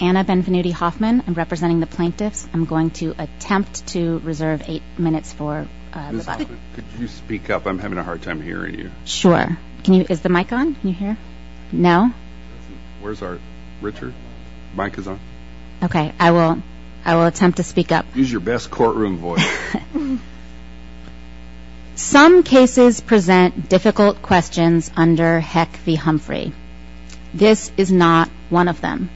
Anna Benvenuti-Hoffman v. Plaintiffs Some cases present difficult questions under Heck v. Humphrey. This is not one of them.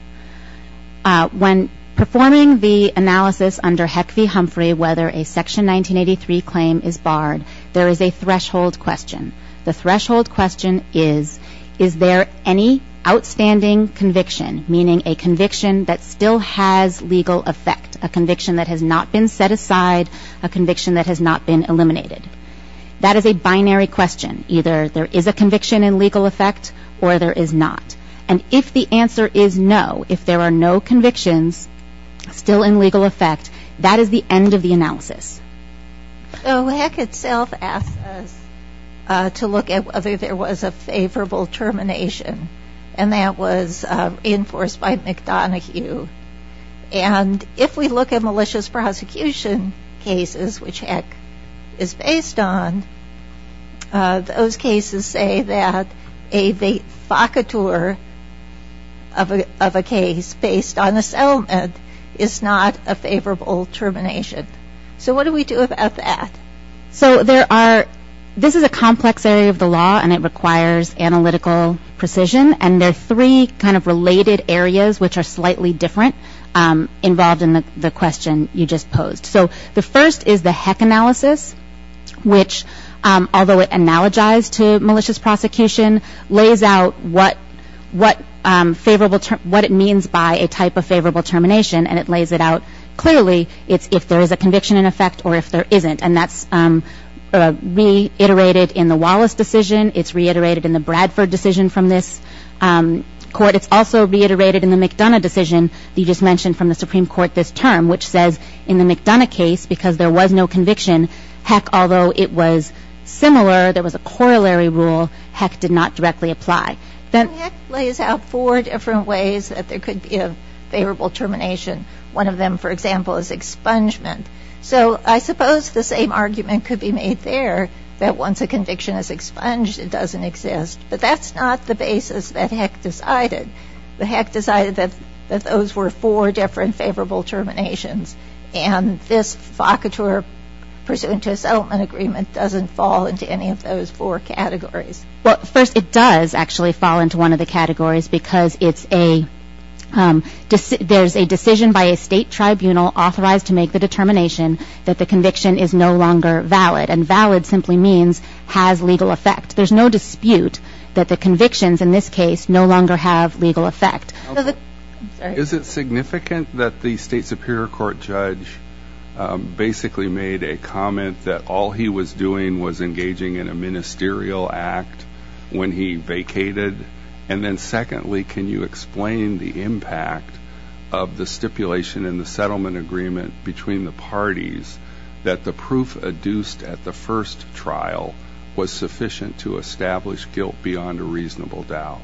When performing the analysis under Heck v. Humphrey whether a Section 1983 claim is barred, there is a threshold question. The threshold question is, is there any outstanding conviction, meaning a conviction that still has legal effect, a conviction that has not been set aside, a conviction that has not been eliminated? That is a binary question. Either there is a conviction in legal effect or there is not. And if the answer is no, if there are no convictions still in legal effect, that is the end of the analysis. So Heck itself asked us to look at whether there was a favorable termination, and that was reinforced by McDonoghue. And if we look at malicious prosecution cases, which Heck is based on, those cases say that a vaifakatur of a case based on assentment is not a favorable termination. So what do we do about that? So there are, this is a complex area of the law and it requires analytical precision, and there are three kind of related areas, which are slightly different, involved in the question you just posed. So the first is the Heck analysis, which, although it analogized to malicious prosecution, lays out what it means by a type of favorable termination, and it lays it out clearly if there is a conviction in effect or if there isn't. And that is reiterated in the Wallace decision. It's reiterated in the Bradford decision from this court. It's also reiterated in the McDonough decision that you just mentioned from the Supreme Court this term, which says in the McDonough case, because there was no conviction, Heck, although it was similar, there was a corollary rule, Heck did not directly apply. Then Heck lays out four different ways that there could be a favorable termination. One of them, for example, is expungement. So I suppose the same argument could be made there, that once a conviction is expunged, it doesn't exist. But that's not the basis that Heck decided. Heck decided that those were four different favorable terminations, and this focatura pursuant to a settlement agreement doesn't fall into any of those four categories. Well, first, it does actually fall into one of the categories, because there's a decision by a state tribunal authorized to make the determination that the conviction is no longer valid. And valid simply means has legal effect. There's no dispute that the convictions in this case no longer have legal effect. Is it significant that the state superior court judge basically made a comment that all he was doing was engaging in a ministerial act when he vacated? And then secondly, can you explain the impact of the stipulation in the settlement agreement between the parties that the proof adduced at the first trial was sufficient to establish guilt beyond a reasonable doubt?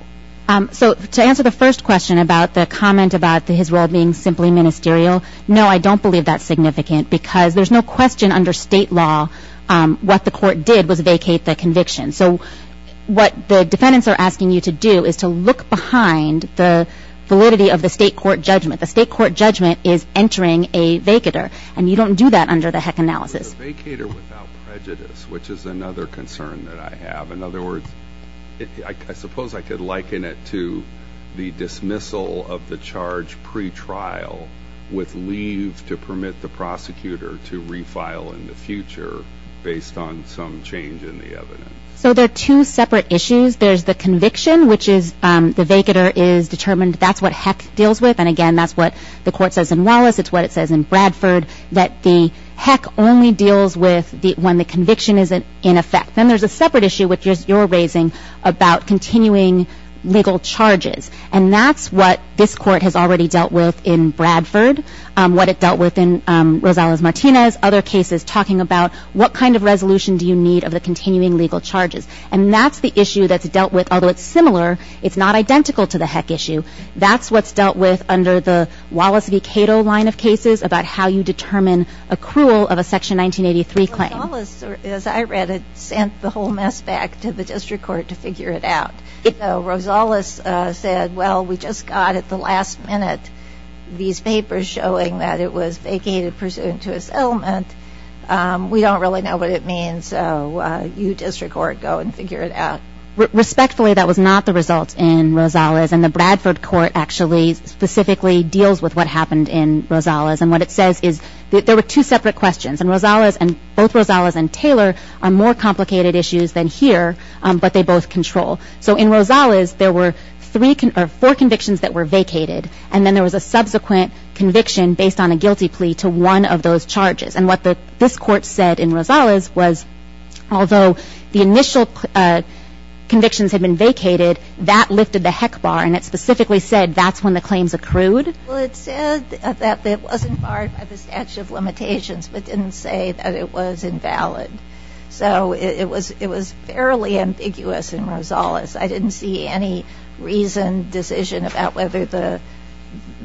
So to answer the first question about the comment about his role being simply ministerial, no, I don't believe that's significant, because there's no question under state law what the court did was vacate the conviction. So what the defendants are asking you to do is to look behind the validity of the state court judgment. The state court judgment is entering a vacator, and you don't do that under the HEC analysis. A vacator without prejudice, which is another concern that I have. In other words, I suppose I could liken it to the dismissal of the charge pre-trial with leave to permit the prosecutor to refile in the future based on some change in the evidence. So there are two separate issues. There's the conviction, which is the vacator is determined. That's what HEC deals with. And again, that's what the court says in Wallace. It's what it says in Bradford, that the HEC only deals with when the conviction is in effect. Then there's a separate issue, which you're raising, about continuing legal charges. And that's what this court has already dealt with in Bradford, what it dealt with in Rosales-Martinez, other cases talking about what kind of resolution do you need of the continuing legal charges. And that's the issue that's dealt with. Although it's similar, it's not identical to the HEC issue. That's what's dealt with under the Wallace v. Cato line of cases about how you determine accrual of a Section 1983 claim. Rosales, as I read it, sent the whole mess back to the district court to figure it out. Rosales said, well, we just got at the last minute these papers showing that it was vacated pursuant to a settlement. We don't really know what it means. So you, district court, go and figure it out. Respectfully, that was not the result in Rosales. And the Bradford court actually specifically deals with what happened in Rosales. And what it says is there were two separate questions. And both Rosales and Taylor are more complicated issues than here, but they both control. So in Rosales, there were four convictions that were vacated. And then there was a subsequent conviction based on a guilty plea to one of those charges. And what this court said in Rosales was, although the initial convictions had been vacated, that lifted the HEC bar. And it specifically said that's when the claims accrued. Well, it said that it wasn't barred by the statute of limitations, but didn't say that it was invalid. So it was fairly ambiguous in Rosales. I didn't see any reasoned decision about whether the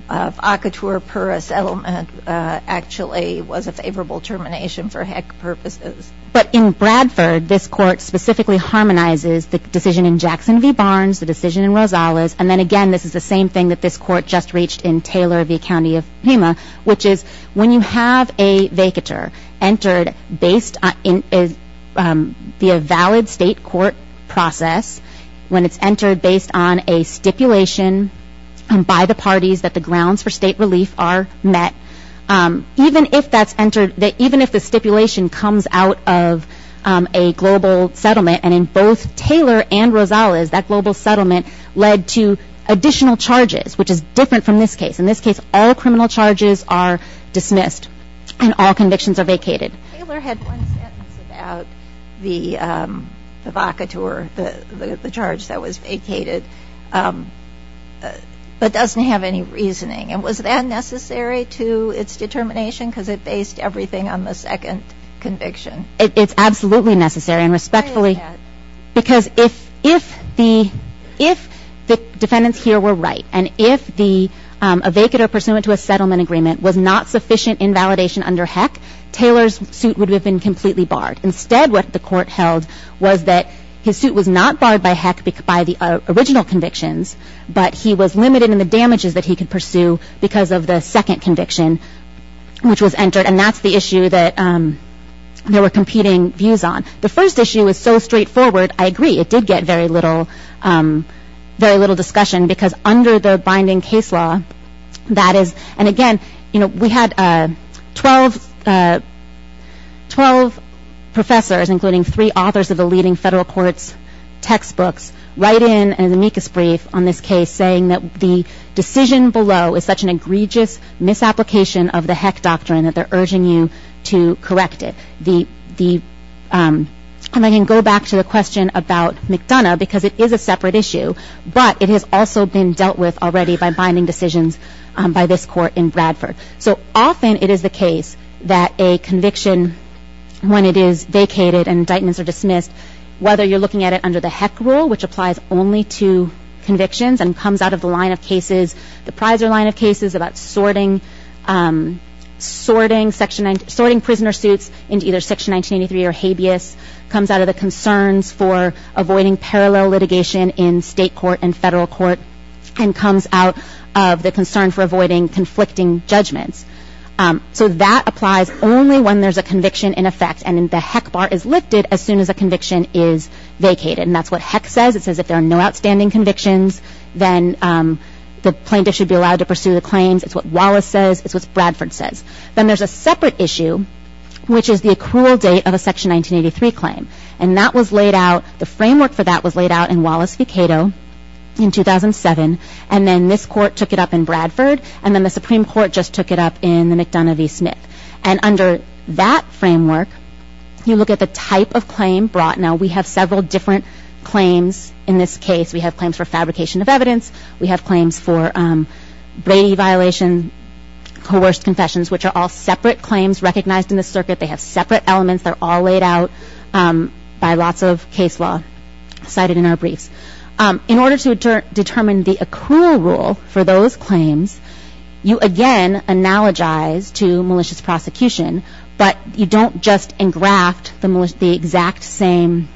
vacatur pura settlement actually was a favorable termination for HEC purposes. But in Bradford, this court specifically harmonizes the decision in Jackson v. Barnes, the decision in Rosales. And then, again, this is the same thing that this court just reached in Taylor v. County of Pima, which is when you have a vacatur entered via valid state court process, when it's entered based on a stipulation by the parties that the grounds for state relief are met, even if the stipulation comes out of a global settlement, and in both Taylor and Rosales, that global settlement led to additional charges, which is different from this case. In this case, all criminal charges are dismissed and all convictions are vacated. Taylor had one sentence about the vacatur, the charge that was vacated, but doesn't have any reasoning. And was that necessary to its determination? Because it based everything on the second conviction. Why is that? Because if the defendants here were right, and if the vacatur pursuant to a settlement agreement was not sufficient in validation under HEC, Taylor's suit would have been completely barred. Instead, what the court held was that his suit was not barred by HEC by the original convictions, but he was limited in the damages that he could pursue because of the second conviction, which was entered. And that's the issue that there were competing views on. The first issue is so straightforward, I agree, it did get very little discussion, because under the binding case law, that is, and again, you know, we had 12 professors, including three authors of the leading federal court's textbooks, write in an amicus brief on this case, saying that the decision below is such an egregious misapplication of the HEC doctrine that they're urging you to correct it. And I can go back to the question about McDonough, because it is a separate issue, but it has also been dealt with already by binding decisions by this court in Bradford. So often it is the case that a conviction, when it is vacated and indictments are dismissed, whether you're looking at it under the HEC rule, which applies only to convictions and comes out of the line of cases, the Prizer line of cases about sorting prisoner suits into either Section 1983 or habeas, comes out of the concerns for avoiding parallel litigation in state court and federal court, and comes out of the concern for avoiding conflicting judgments. So that applies only when there's a conviction in effect, and the HEC bar is lifted as soon as a conviction is vacated. And that's what HEC says. It says if there are no outstanding convictions, then the plaintiff should be allowed to pursue the claims. It's what Wallace says. It's what Bradford says. Then there's a separate issue, which is the accrual date of a Section 1983 claim. And that was laid out, the framework for that was laid out in Wallace v. Cato in 2007, and then this court took it up in Bradford, and then the Supreme Court just took it up in the McDonough v. Smith. And under that framework, you look at the type of claim brought. Now, we have several different claims in this case. We have claims for fabrication of evidence. We have claims for Brady violation, coerced confessions, which are all separate claims recognized in the circuit. They have separate elements. They're all laid out by lots of case law cited in our briefs. In order to determine the accrual rule for those claims, you again analogize to malicious prosecution, but you don't just engraft the exact same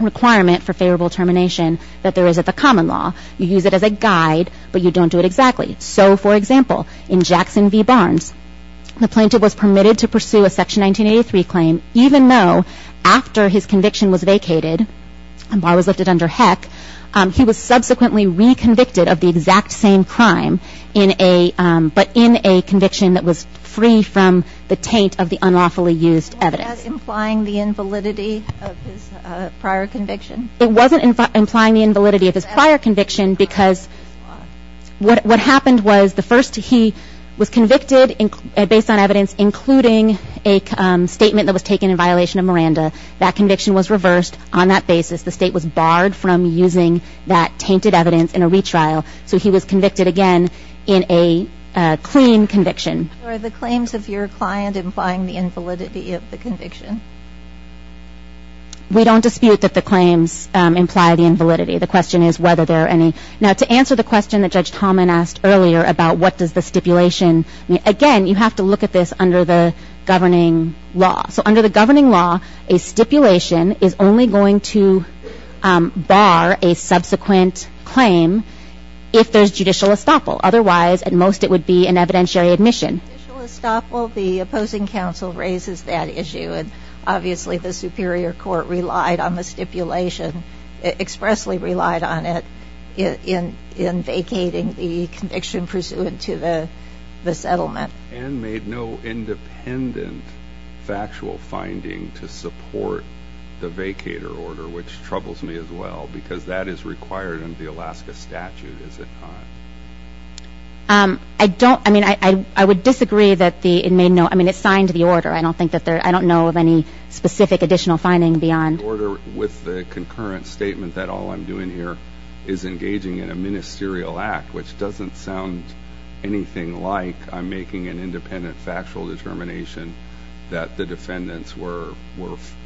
requirement for favorable termination that there is at the common law. You use it as a guide, but you don't do it exactly. So, for example, in Jackson v. Barnes, the plaintiff was permitted to pursue a Section 1983 claim, even though after his conviction was vacated, and Barr was lifted under heck, he was subsequently reconvicted of the exact same crime, but in a conviction that was free from the taint of the unlawfully used evidence. Was that implying the invalidity of his prior conviction? It wasn't implying the invalidity of his prior conviction because what happened was, the first he was convicted based on evidence including a statement that was taken in violation of Miranda. That conviction was reversed. On that basis, the State was barred from using that tainted evidence in a retrial, so he was convicted again in a clean conviction. Are the claims of your client implying the invalidity of the conviction? We don't dispute that the claims imply the invalidity. The question is whether there are any. Now, to answer the question that Judge Tallman asked earlier about what does the stipulation mean, again, you have to look at this under the governing law. So under the governing law, a stipulation is only going to bar a subsequent claim if there's judicial estoppel. Otherwise, at most, it would be an evidentiary admission. Judicial estoppel, the opposing counsel raises that issue, and obviously the superior court relied on the stipulation, expressly relied on it, in vacating the conviction pursuant to the settlement. And made no independent factual finding to support the vacator order, which troubles me as well, because that is required under the Alaska statute, is it not? I don't, I mean, I would disagree that the, it made no, I mean, it's signed the order. I don't think that there, I don't know of any specific additional finding beyond. Order with the concurrent statement that all I'm doing here is engaging in a ministerial act, which doesn't sound anything like I'm making an independent factual determination that the defendants were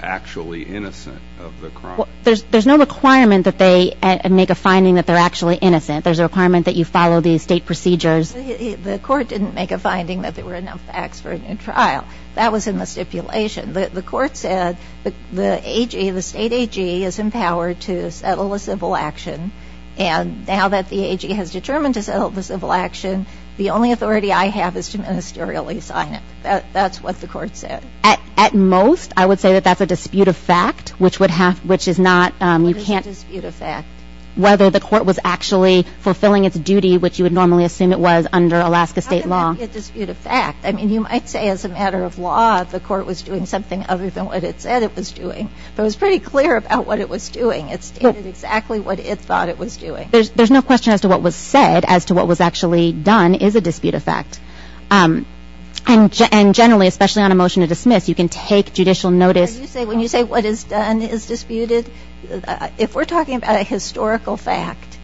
actually innocent of the crime. There's no requirement that they make a finding that they're actually innocent. There's a requirement that you follow the state procedures. The court didn't make a finding that there were enough facts for a new trial. That was in the stipulation. The court said the AG, the state AG is empowered to settle a civil action, and now that the AG has determined to settle the civil action, the only authority I have is to ministerially sign it. That's what the court said. At most, I would say that that's a dispute of fact, which would have, which is not, you can't. What is a dispute of fact? Whether the court was actually fulfilling its duty, which you would normally assume it was, under Alaska state law. I mean, you might say as a matter of law, the court was doing something other than what it said it was doing. But it was pretty clear about what it was doing. It stated exactly what it thought it was doing. There's no question as to what was said, as to what was actually done, is a dispute of fact. And generally, especially on a motion to dismiss, you can take judicial notice. When you say what is done is disputed, if we're talking about a historical fact,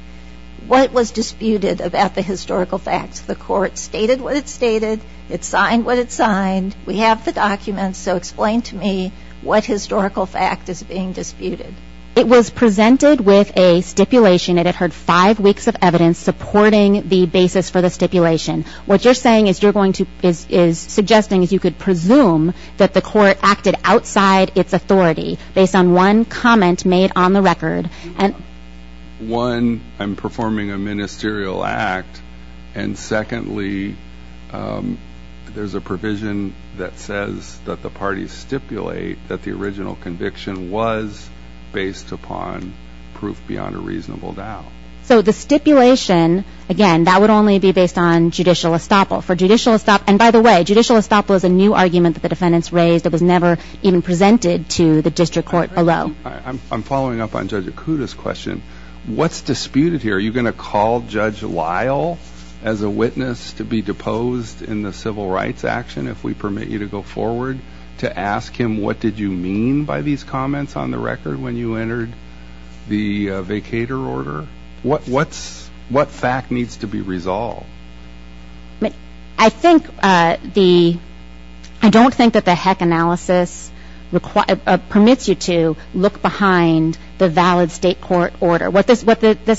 what was disputed about the historical fact? The court stated what it stated. It signed what it signed. We have the documents, so explain to me what historical fact is being disputed. It was presented with a stipulation. It had heard five weeks of evidence supporting the basis for the stipulation. What you're saying is you're going to, is suggesting is you could presume that the court acted outside its authority based on one comment made on the record. One, I'm performing a ministerial act, and secondly, there's a provision that says that the parties stipulate that the original conviction was based upon proof beyond a reasonable doubt. So the stipulation, again, that would only be based on judicial estoppel. For judicial estoppel, and by the way, judicial estoppel is a new argument that the defendants raised. It was never even presented to the district court below. I'm following up on Judge Acuda's question. What's disputed here? Are you going to call Judge Lyle as a witness to be deposed in the civil rights action, if we permit you to go forward, to ask him what did you mean by these comments on the record when you entered the vacator order? What fact needs to be resolved? I think the, I don't think that the heck analysis permits you to look behind the valid state court order. What this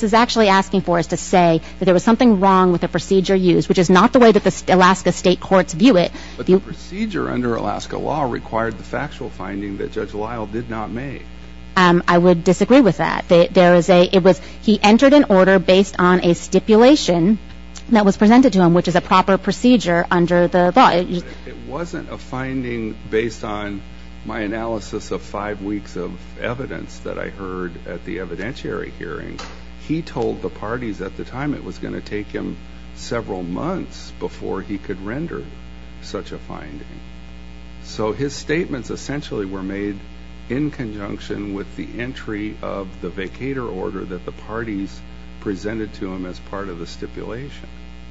is actually asking for is to say that there was something wrong with the procedure used, which is not the way that the Alaska state courts view it. But the procedure under Alaska law required the factual finding that Judge Lyle did not make. I would disagree with that. He entered an order based on a stipulation that was presented to him, which is a proper procedure under the law. It wasn't a finding based on my analysis of five weeks of evidence that I heard at the evidentiary hearing. He told the parties at the time it was going to take him several months before he could render such a finding. So his statements essentially were made in conjunction with the entry of the vacator order that the parties presented to him as part of the stipulation.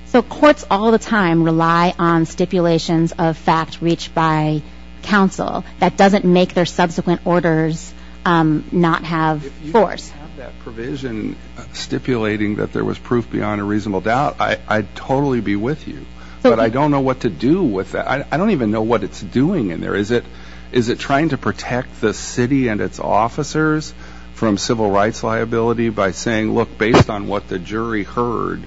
So courts all the time rely on stipulations of fact reached by counsel. That doesn't make their subsequent orders not have force. If you have that provision stipulating that there was proof beyond a reasonable doubt, I'd totally be with you. But I don't know what to do with that. I don't even know what it's doing in there. Is it trying to protect the city and its officers from civil rights liability by saying, look, based on what the jury heard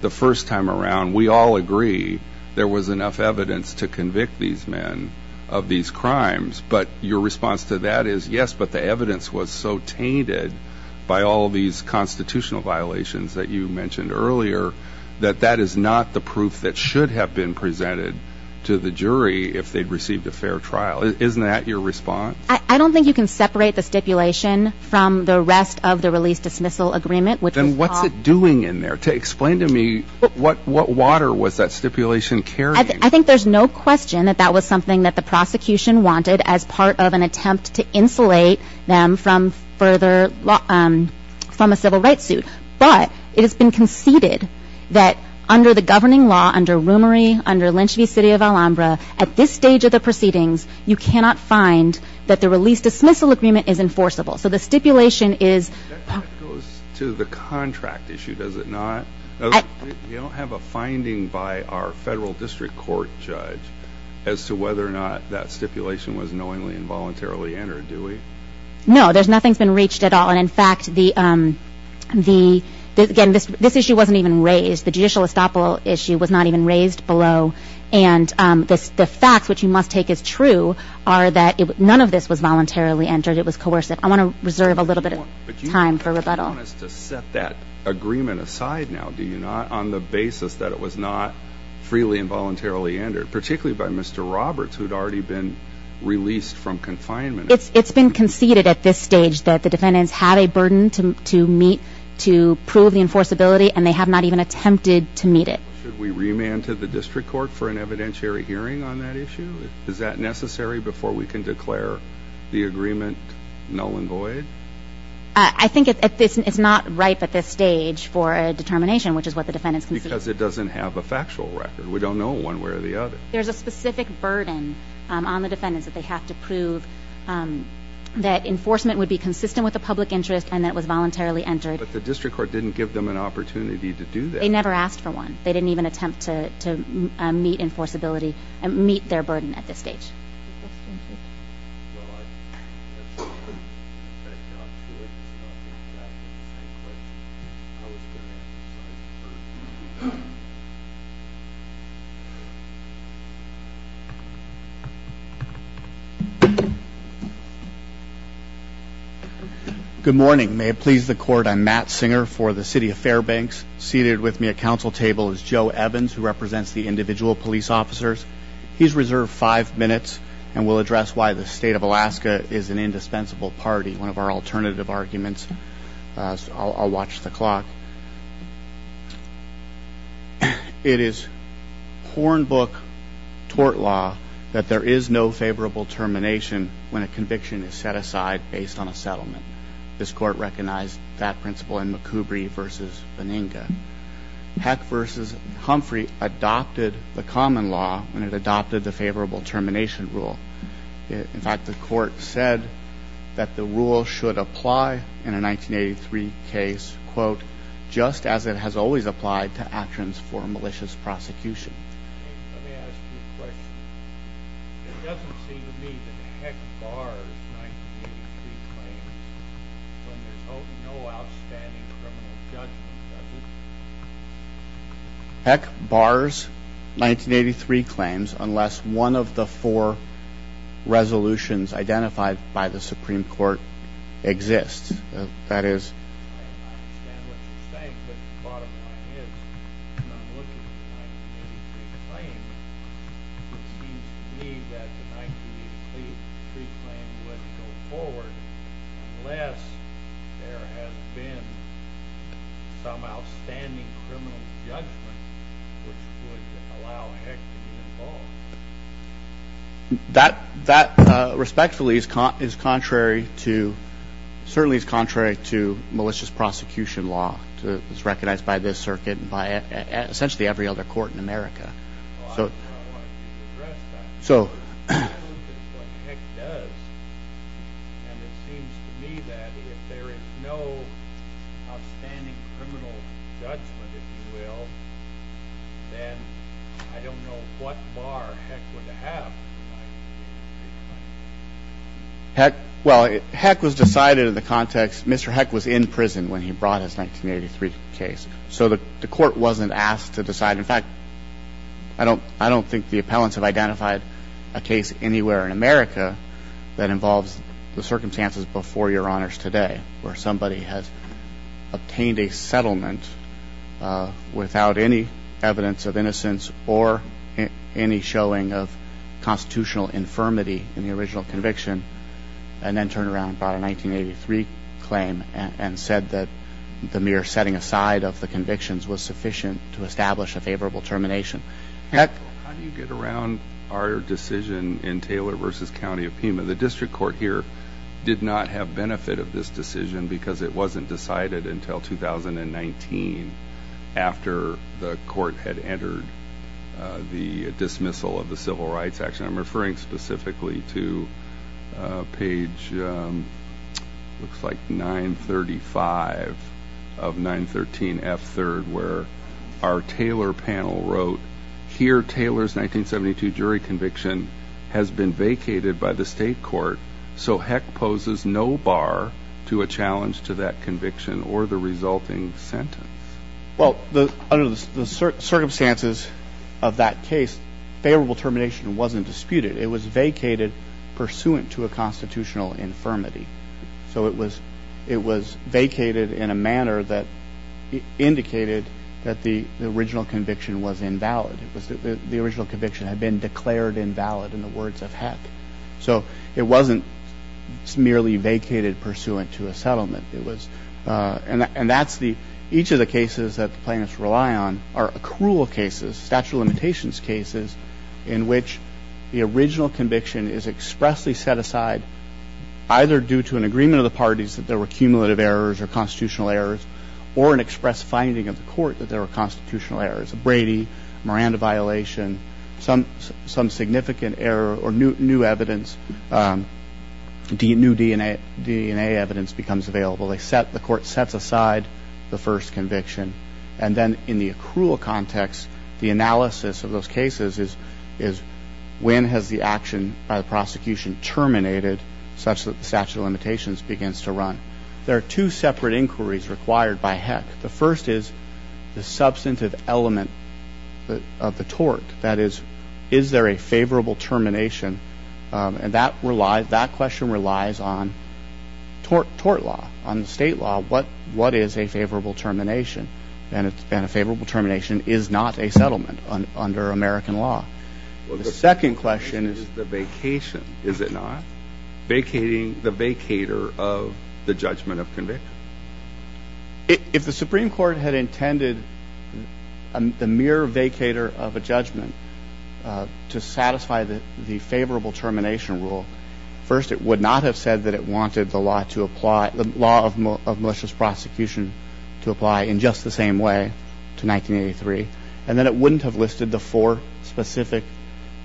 the first time around, we all agree there was enough evidence to convict these men of these crimes. But your response to that is, yes, but the evidence was so tainted by all these constitutional violations that you mentioned earlier that that is not the proof that should have been presented to the jury if they'd received a fair trial. Isn't that your response? I don't think you can separate the stipulation from the rest of the release-dismissal agreement. Then what's it doing in there? Explain to me what water was that stipulation carrying? I think there's no question that that was something that the prosecution wanted as part of an attempt to insulate them from a civil rights suit. But it has been conceded that under the governing law, under Roomery, under Lynch v. City of Alhambra, at this stage of the proceedings, you cannot find that the release-dismissal agreement is enforceable. So the stipulation is... That goes to the contract issue, does it not? You don't have a finding by our federal district court judge as to whether or not that stipulation was knowingly and voluntarily entered, do we? No, nothing's been reached at all. And, in fact, again, this issue wasn't even raised. The judicial estoppel issue was not even raised below. And the facts, which you must take as true, are that none of this was voluntarily entered. It was coercive. I want to reserve a little bit of time for rebuttal. But you want us to set that agreement aside now, do you not, on the basis that it was not freely and voluntarily entered, particularly by Mr. Roberts, who had already been released from confinement? It's been conceded at this stage that the defendants had a burden to meet to prove the enforceability, and they have not even attempted to meet it. Should we remand to the district court for an evidentiary hearing on that issue? Is that necessary before we can declare the agreement null and void? I think it's not ripe at this stage for a determination, which is what the defendants conceded. Because it doesn't have a factual record. We don't know one way or the other. There's a specific burden on the defendants that they have to prove that enforcement would be consistent with the public interest and that it was voluntarily entered. But the district court didn't give them an opportunity to do that. They never asked for one. They didn't even attempt to meet enforceability and meet their burden at this stage. Well, I'm not sure it's exactly the same question. I was going to ask the same question. Good morning. May it please the court, I'm Matt Singer for the City of Fairbanks. Seated with me at council table is Joe Evans, who represents the individual police officers. He's reserved five minutes and will address why the state of Alaska is an indispensable party, one of our alternative arguments. I'll watch the clock. It is Hornbook tort law that there is no favorable termination when a conviction is set aside based on a settlement. This court recognized that principle in McCoubry v. Benninga. Heck v. Humphrey adopted the common law when it adopted the favorable termination rule. In fact, the court said that the rule should apply in a 1983 case, quote, just as it has always applied to actions for malicious prosecution. Let me ask you a question. It doesn't seem to me that Heck bars 1983 claims when there's no outstanding criminal judgment, does it? Heck bars 1983 claims unless one of the four resolutions identified by the Supreme Court exists. That is? I understand what you're saying, but the bottom line is, when I'm looking at the 1983 claim, it seems to me that the 1983 claim wouldn't go forward unless there has been some outstanding criminal judgment which would allow Heck to be involved. That respectfully is contrary to malicious prosecution law. It's recognized by this circuit and by essentially every other court in America. I don't know how to address that. I look at what Heck does, and it seems to me that if there is no outstanding criminal judgment, if you will, then I don't know what bar Heck would have. Heck was decided in the context, Mr. Heck was in prison when he brought his 1983 case, so the court wasn't asked to decide. In fact, I don't think the appellants have identified a case anywhere in America that involves the circumstances before your honors today where somebody has obtained a settlement without any evidence of innocence or any showing of constitutional infirmity in the original conviction and then turned around and filed a 1983 claim and said that the mere setting aside of the convictions was sufficient to establish a favorable termination. How do you get around our decision in Taylor v. County of Pima? The district court here did not have benefit of this decision because it wasn't decided until 2019 after the court had entered the dismissal of the Civil Rights Act. I'm referring specifically to page 935 of 913F3 where our Taylor panel wrote, here Taylor's 1972 jury conviction has been vacated by the state court, so Heck poses no bar to a challenge to that conviction or the resulting sentence. Well, under the circumstances of that case, favorable termination wasn't disputed. It was vacated pursuant to a constitutional infirmity. So it was vacated in a manner that indicated that the original conviction was invalid. The original conviction had been declared invalid in the words of Heck. So it wasn't merely vacated pursuant to a settlement. And each of the cases that the plaintiffs rely on are accrual cases, statute of limitations cases in which the original conviction is expressly set aside either due to an agreement of the parties that there were cumulative errors or constitutional errors or an express finding of the court that there were constitutional errors, a Brady, Miranda violation, some significant error or new DNA evidence becomes available. The court sets aside the first conviction. And then in the accrual context, the analysis of those cases is when has the action by the prosecution terminated such that the statute of limitations begins to run. The first is the substantive element of the tort. That is, is there a favorable termination? And that question relies on tort law, on state law. What is a favorable termination? And a favorable termination is not a settlement under American law. The second question is the vacation. Is it not? Vacating the vacator of the judgment of conviction. If the Supreme Court had intended the mere vacator of a judgment to satisfy the favorable termination rule, first it would not have said that it wanted the law of malicious prosecution to apply in just the same way to 1983. And then it wouldn't have listed the four specific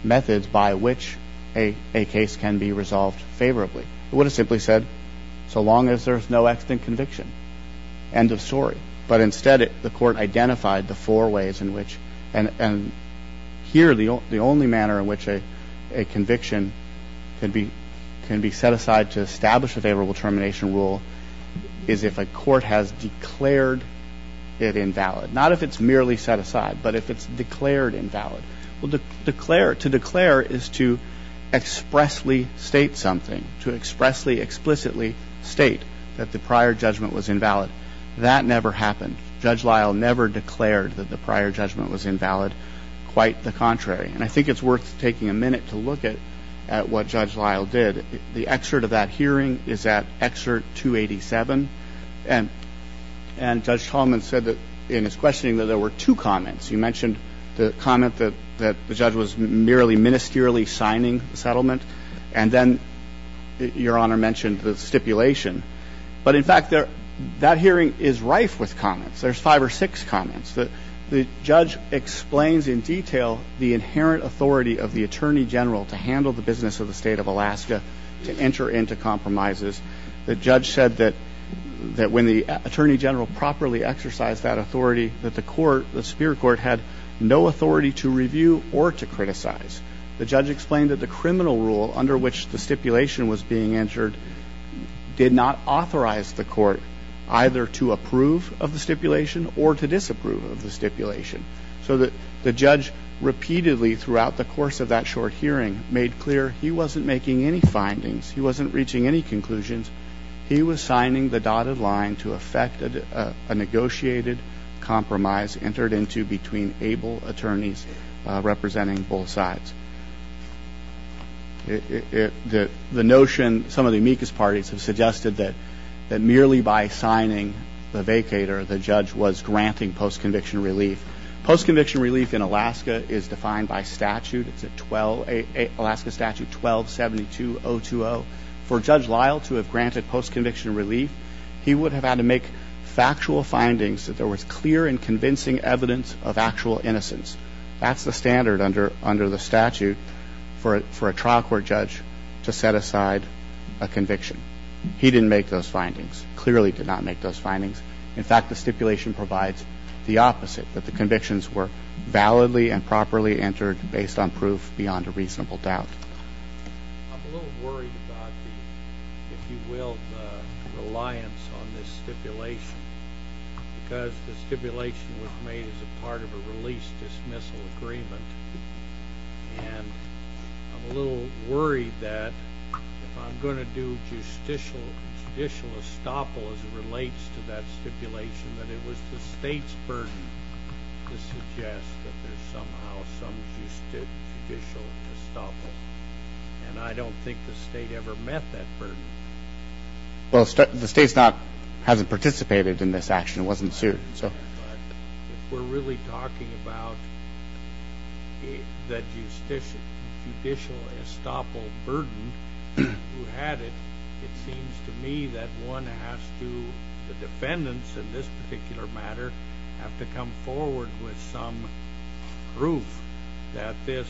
methods by which a case can be resolved favorably. It would have simply said so long as there's no extant conviction. End of story. But instead the court identified the four ways in which, and here the only manner in which a conviction can be set aside to establish a favorable termination rule is if a court has declared it invalid. Not if it's merely set aside, but if it's declared invalid. Well, to declare is to expressly state something. To expressly, explicitly state that the prior judgment was invalid. That never happened. Judge Lyle never declared that the prior judgment was invalid. Quite the contrary. And I think it's worth taking a minute to look at what Judge Lyle did. The excerpt of that hearing is at excerpt 287. And Judge Tolman said in his questioning that there were two comments. He mentioned the comment that the judge was merely ministerially signing the settlement. And then Your Honor mentioned the stipulation. But, in fact, that hearing is rife with comments. There's five or six comments. The judge explains in detail the inherent authority of the Attorney General to handle the business of the State of Alaska to enter into compromises. The judge said that when the Attorney General properly exercised that authority, that the court, the superior court, had no authority to review or to criticize. The judge explained that the criminal rule under which the stipulation was being entered did not authorize the court either to approve of the stipulation or to disapprove of the stipulation. So the judge repeatedly, throughout the course of that short hearing, made clear he wasn't making any findings. He wasn't reaching any conclusions. He was signing the dotted line to effect a negotiated compromise entered into between able attorneys representing both sides. The notion, some of the amicus parties have suggested that merely by signing the vacator, the judge was granting post-conviction relief. Post-conviction relief in Alaska is defined by statute. It's Alaska Statute 1272.020. For Judge Lyle to have granted post-conviction relief, he would have had to make factual findings that there was clear and convincing evidence of actual innocence. That's the standard under the statute for a trial court judge to set aside a conviction. He didn't make those findings, clearly did not make those findings. In fact, the stipulation provides the opposite, that the convictions were validly and properly entered based on proof beyond a reasonable doubt. I'm a little worried about the, if you will, reliance on this stipulation because the stipulation was made as a part of a release-dismissal agreement, and I'm a little worried that if I'm going to do judicial estoppel as it relates to that stipulation, that it was the State's burden to suggest that there's somehow some judicial estoppel, and I don't think the State ever met that burden. Well, the State hasn't participated in this action. It wasn't sued. If we're really talking about the judicial estoppel burden who had it, it seems to me that one has to, the defendants in this particular matter, have to come forward with some proof that this,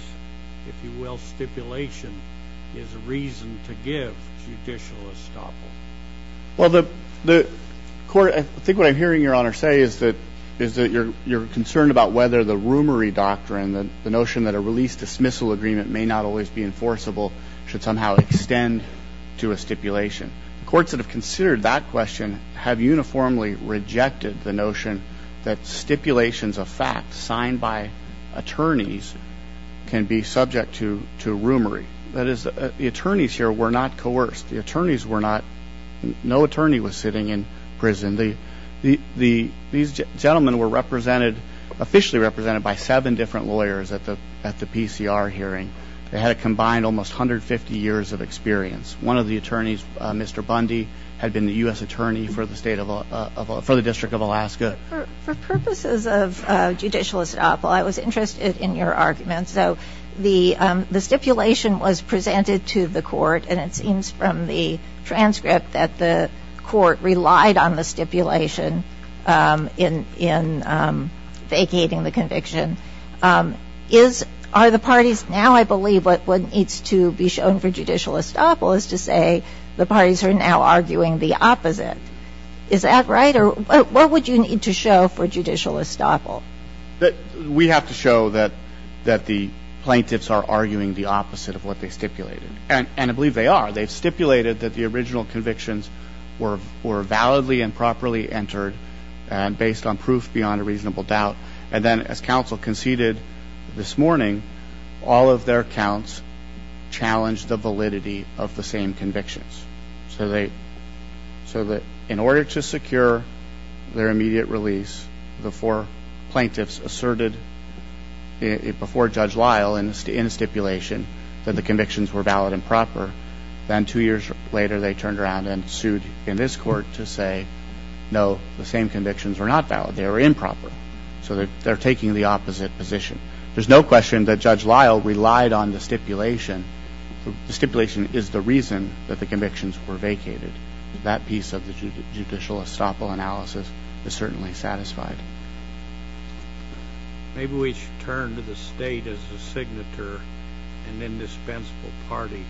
if you will, stipulation is a reason to give judicial estoppel. Well, the court, I think what I'm hearing Your Honor say is that you're concerned about whether the rumoury doctrine, the notion that a release-dismissal agreement may not always be enforceable, should somehow extend to a stipulation. Courts that have considered that question have uniformly rejected the notion that stipulations of facts signed by attorneys can be subject to rumoury. That is, the attorneys here were not coerced. The attorneys were not, no attorney was sitting in prison. These gentlemen were officially represented by seven different lawyers at the PCR hearing. They had a combined almost 150 years of experience. One of the attorneys, Mr. Bundy, had been the U.S. attorney for the District of Alaska. For purposes of judicial estoppel, I was interested in your argument. So the stipulation was presented to the court, and it seems from the transcript that the court relied on the stipulation in vacating the conviction. Now I believe what needs to be shown for judicial estoppel is to say the parties are now arguing the opposite. Is that right? Or what would you need to show for judicial estoppel? We have to show that the plaintiffs are arguing the opposite of what they stipulated. And I believe they are. They've stipulated that the original convictions were validly and properly entered and based on proof beyond a reasonable doubt. And then as counsel conceded this morning, all of their counts challenged the validity of the same convictions. So in order to secure their immediate release, the four plaintiffs asserted before Judge Lyle in the stipulation that the convictions were valid and proper. Then two years later they turned around and sued in this court to say, no, the same convictions were not valid. They were improper. So they're taking the opposite position. There's no question that Judge Lyle relied on the stipulation. The stipulation is the reason that the convictions were vacated. That piece of the judicial estoppel analysis is certainly satisfied. Maybe we should turn to the State as a signature, an indispensable party.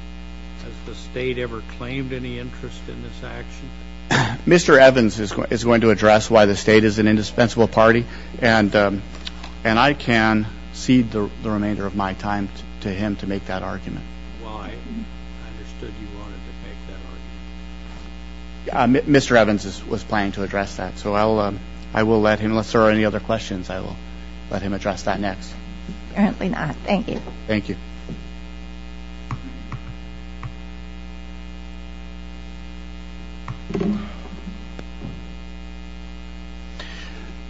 Has the State ever claimed any interest in this action? Mr. Evans is going to address why the State is an indispensable party. And I can cede the remainder of my time to him to make that argument. Well, I understood you wanted to make that argument. Mr. Evans was planning to address that. So I will let him, unless there are any other questions, I will let him address that next. Apparently not. Thank you. Thank you.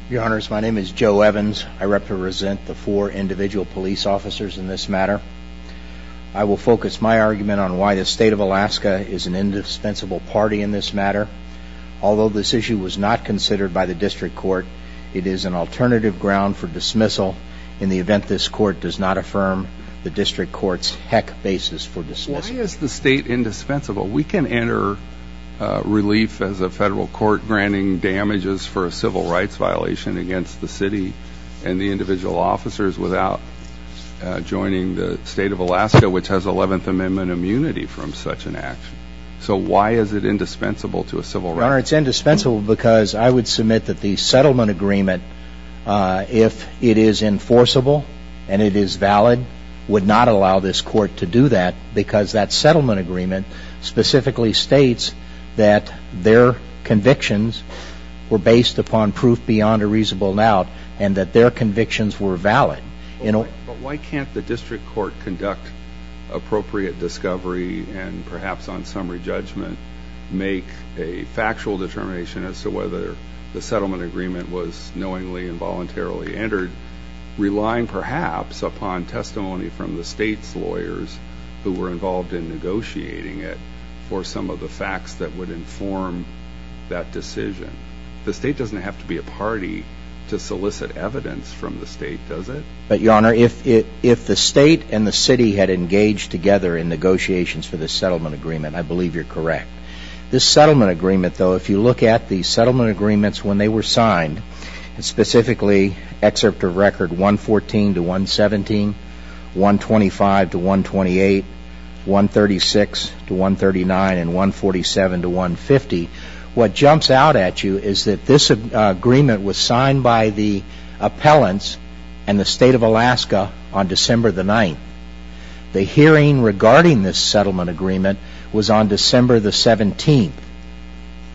Your Honors, my name is Joe Evans. I represent the four individual police officers in this matter. I will focus my argument on why the State of Alaska is an indispensable party in this matter. Although this issue was not considered by the district court, it is an alternative ground for dismissal in the event this court does not affirm the district court's heck basis for dismissal. Why is the State indispensable? We can enter relief as a federal court granting damages for a civil rights violation against the city and the individual officers without joining the State of Alaska, which has 11th Amendment immunity from such an action. So why is it indispensable to a civil rights? Your Honor, it's indispensable because I would submit that the settlement agreement, if it is enforceable and it is valid, would not allow this court to do that because that settlement agreement specifically states that their convictions were based upon proof beyond a reasonable doubt and that their convictions were valid. But why can't the district court conduct appropriate discovery and perhaps on summary judgment make a factual determination as to whether the settlement agreement was knowingly and voluntarily entered, relying perhaps upon testimony from the State's lawyers who were involved in negotiating it for some of the facts that would inform that decision? The State doesn't have to be a party to solicit evidence from the State, does it? But, Your Honor, if the State and the city had engaged together in negotiations for this settlement agreement, I believe you're correct. This settlement agreement, though, if you look at the settlement agreements when they were signed, specifically Excerpt of Record 114 to 117, 125 to 128, 136 to 139, and 147 to 150, what jumps out at you is that this agreement was signed by the appellants and the State of Alaska on December the 9th. The hearing regarding this settlement agreement was on December the 17th.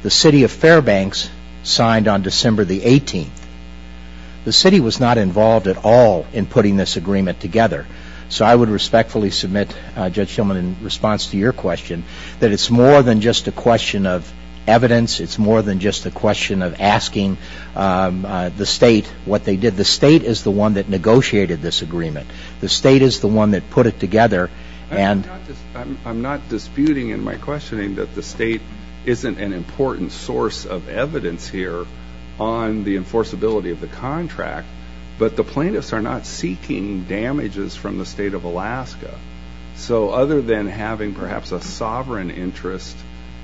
The City of Fairbanks signed on December the 18th. The City was not involved at all in putting this agreement together. So I would respectfully submit, Judge Shillman, in response to your question, that it's more than just a question of evidence. It's more than just a question of asking the State what they did. The State is the one that negotiated this agreement. The State is the one that put it together. I'm not disputing in my questioning that the State isn't an important source of evidence here on the enforceability of the contract, but the plaintiffs are not seeking damages from the State of Alaska. So other than having perhaps a sovereign interest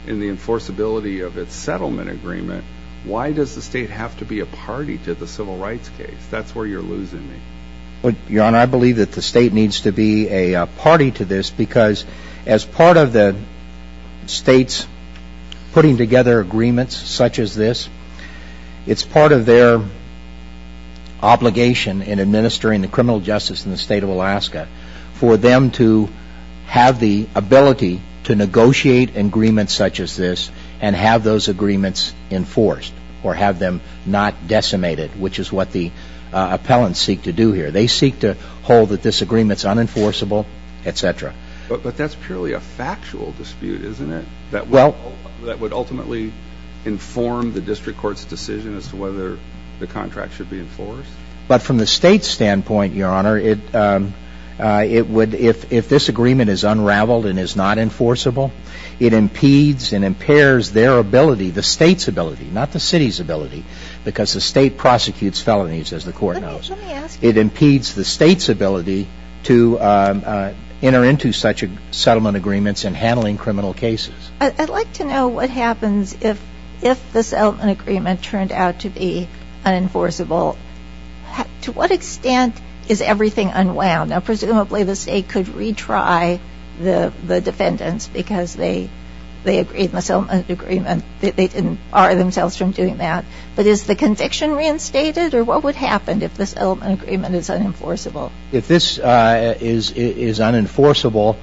in the enforceability of its settlement agreement, why does the State have to be a party to the civil rights case? That's where you're losing me. Your Honor, I believe that the State needs to be a party to this because as part of the State's putting together agreements such as this, it's part of their obligation in administering the criminal justice in the State of Alaska for them to have the ability to negotiate agreements such as this and have those agreements enforced or have them not decimated, which is what the appellants seek to do here. They seek to hold that this agreement is unenforceable, et cetera. But that's purely a factual dispute, isn't it, that would ultimately inform the district court's decision as to whether the contract should be enforced? But from the State's standpoint, Your Honor, if this agreement is unraveled and is not enforceable, it impedes and impairs their ability, the State's ability, not the City's ability, because the State prosecutes felonies, as the Court knows. It impedes the State's ability to enter into such settlement agreements in handling criminal cases. I'd like to know what happens if the settlement agreement turned out to be unenforceable. To what extent is everything unwound? Now, presumably the State could retry the defendants because they agreed in the settlement agreement that they didn't bar themselves from doing that. But is the conviction reinstated? Or what would happen if the settlement agreement is unenforceable? If this is unenforceable,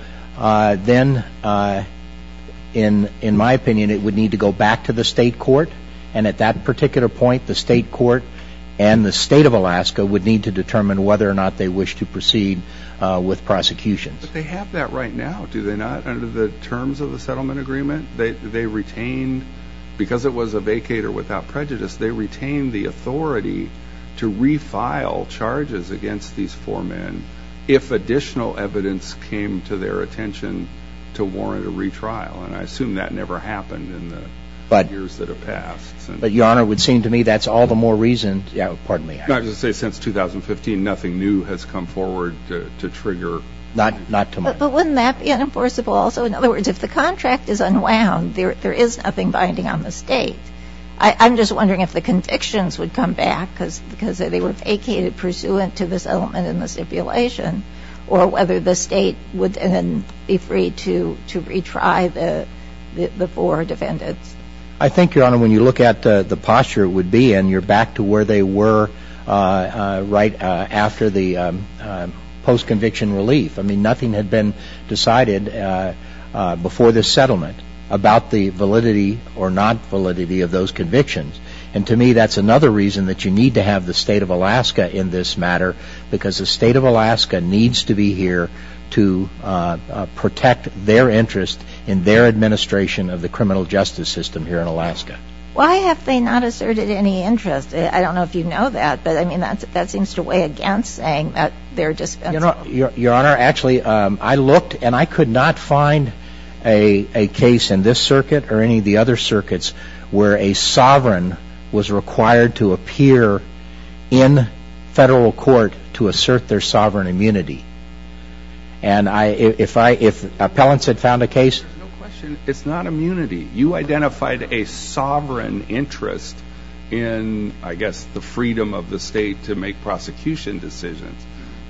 then, in my opinion, it would need to go back to the State court. And at that particular point, the State court and the State of Alaska would need to determine whether or not they wish to proceed with prosecutions. But they have that right now, do they not, under the terms of the settlement agreement? They retained, because it was a vacate or without prejudice, they retained the authority to refile charges against these four men if additional evidence came to their attention to warrant a retrial. And I assume that never happened in the years that have passed. But, Your Honor, it would seem to me that's all the more reason, pardon me. I was going to say since 2015, nothing new has come forward to trigger. But wouldn't that be unenforceable also? In other words, if the contract is unwound, there is nothing binding on the State. I'm just wondering if the convictions would come back because they were vacated pursuant to the settlement and the stipulation, or whether the State would then be free to retry the four defendants. I think, Your Honor, when you look at the posture it would be in, you're back to where they were right after the post-conviction relief. I mean, nothing had been decided before the settlement about the validity or non-validity of those convictions. And to me, that's another reason that you need to have the State of Alaska in this matter because the State of Alaska needs to be here to protect their interest in their administration of the criminal justice system here in Alaska. Why have they not asserted any interest? I don't know if you know that, but that seems to weigh against saying that they're dispensable. Your Honor, actually, I looked and I could not find a case in this circuit or any of the other circuits where a sovereign was required to appear in federal court to assert their sovereign immunity. And if appellants had found a case... No question, it's not immunity. You identified a sovereign interest in, I guess, the freedom of the State to make prosecution decisions.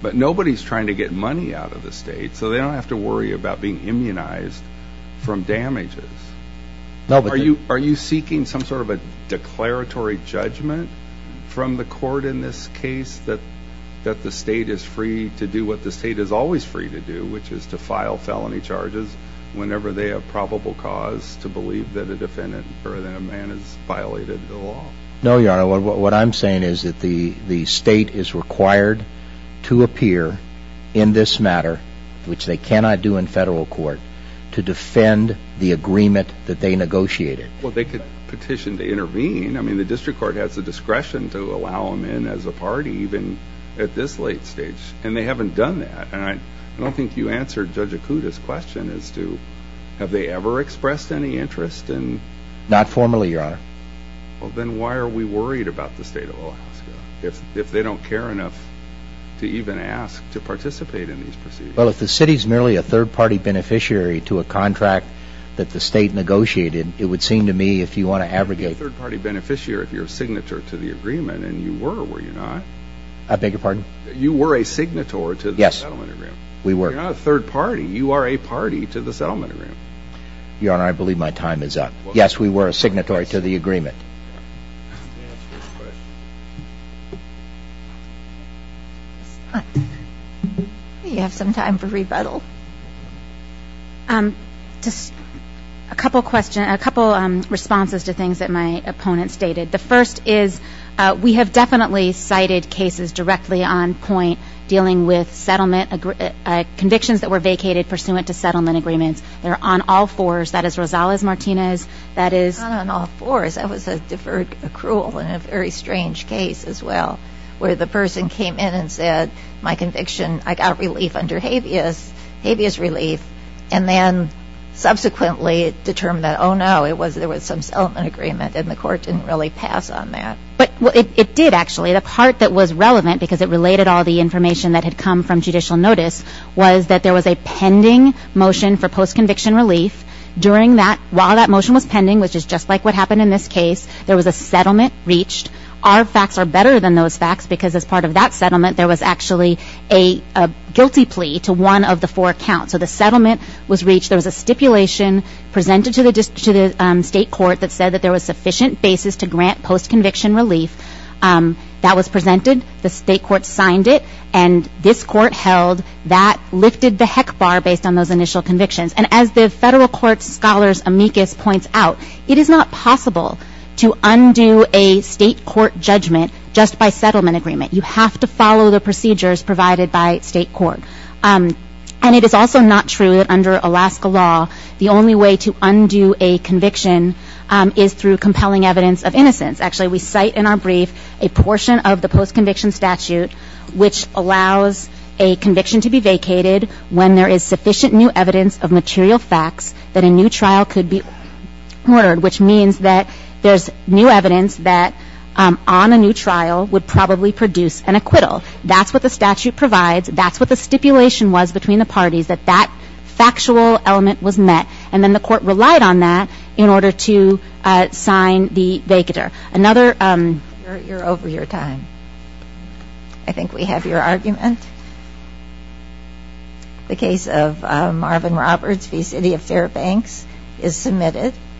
But nobody's trying to get money out of the State, so they don't have to worry about being immunized from damages. Are you seeking some sort of a declaratory judgment from the court in this case that the State is free to do what the State is always free to do, which is to file felony charges whenever they have probable cause to believe that a defendant or that a man has violated the law? No, Your Honor. What I'm saying is that the State is required to appear in this matter, which they cannot do in federal court, to defend the agreement that they negotiated. Well, they could petition to intervene. I mean, the District Court has the discretion to allow them in as a party, even at this late stage. And they haven't done that. And I don't think you answered Judge Acuda's question as to have they ever expressed any interest in... Not formally, Your Honor. Well, then why are we worried about the State of Alaska, if they don't care enough to even ask to participate in these proceedings? Well, if the City's merely a third-party beneficiary to a contract that the State negotiated, it would seem to me, if you want to abrogate... You're a third-party beneficiary if you're a signatory to the agreement, and you were, were you not? I beg your pardon? You were a signatory to the settlement agreement. Yes, we were. You're not a third party. You are a party to the settlement agreement. Your Honor, I believe my time is up. Yes, we were a signatory to the agreement. You have some time for rebuttal. Just a couple responses to things that my opponent stated. The first is we have definitely cited cases directly on point dealing with settlement... convictions that were vacated pursuant to settlement agreements. They're on all fours. That is Rosales-Martinez, that is... Not on all fours. That was a deferred accrual in a very strange case as well, where the person came in and said, my conviction, I got relief under habeas, habeas relief, and then subsequently determined that, oh, no, it was, there was some settlement agreement, and the court didn't really pass on that. But, well, it did, actually. The part that was relevant, because it related all the information that had come from judicial notice, was that there was a pending motion for post-conviction relief. During that, while that motion was pending, which is just like what happened in this case, there was a settlement reached. Our facts are better than those facts, because as part of that settlement, there was actually a guilty plea to one of the four accounts. So the settlement was reached, there was a stipulation presented to the state court that said that there was sufficient basis to grant post-conviction relief. That was presented, the state court signed it, and this court held that lifted the heck bar based on those initial convictions. And as the federal court scholar's amicus points out, it is not possible to undo a state court judgment just by settlement agreement. You have to follow the procedures provided by state court. And it is also not true that under Alaska law, the only way to undo a conviction is through compelling evidence of innocence. Actually, we cite in our brief a portion of the post-conviction statute which allows a conviction to be vacated when there is sufficient new evidence of material facts that a new trial could be ordered, which means that there's new evidence that on a new trial would probably produce an acquittal. That's what the statute provides. That's what the stipulation was between the parties, that that factual element was met. And then the court relied on that in order to sign the vacater. You're over your time. I think we have your argument. The case of Marvin Roberts v. City of Fairbanks is submitted.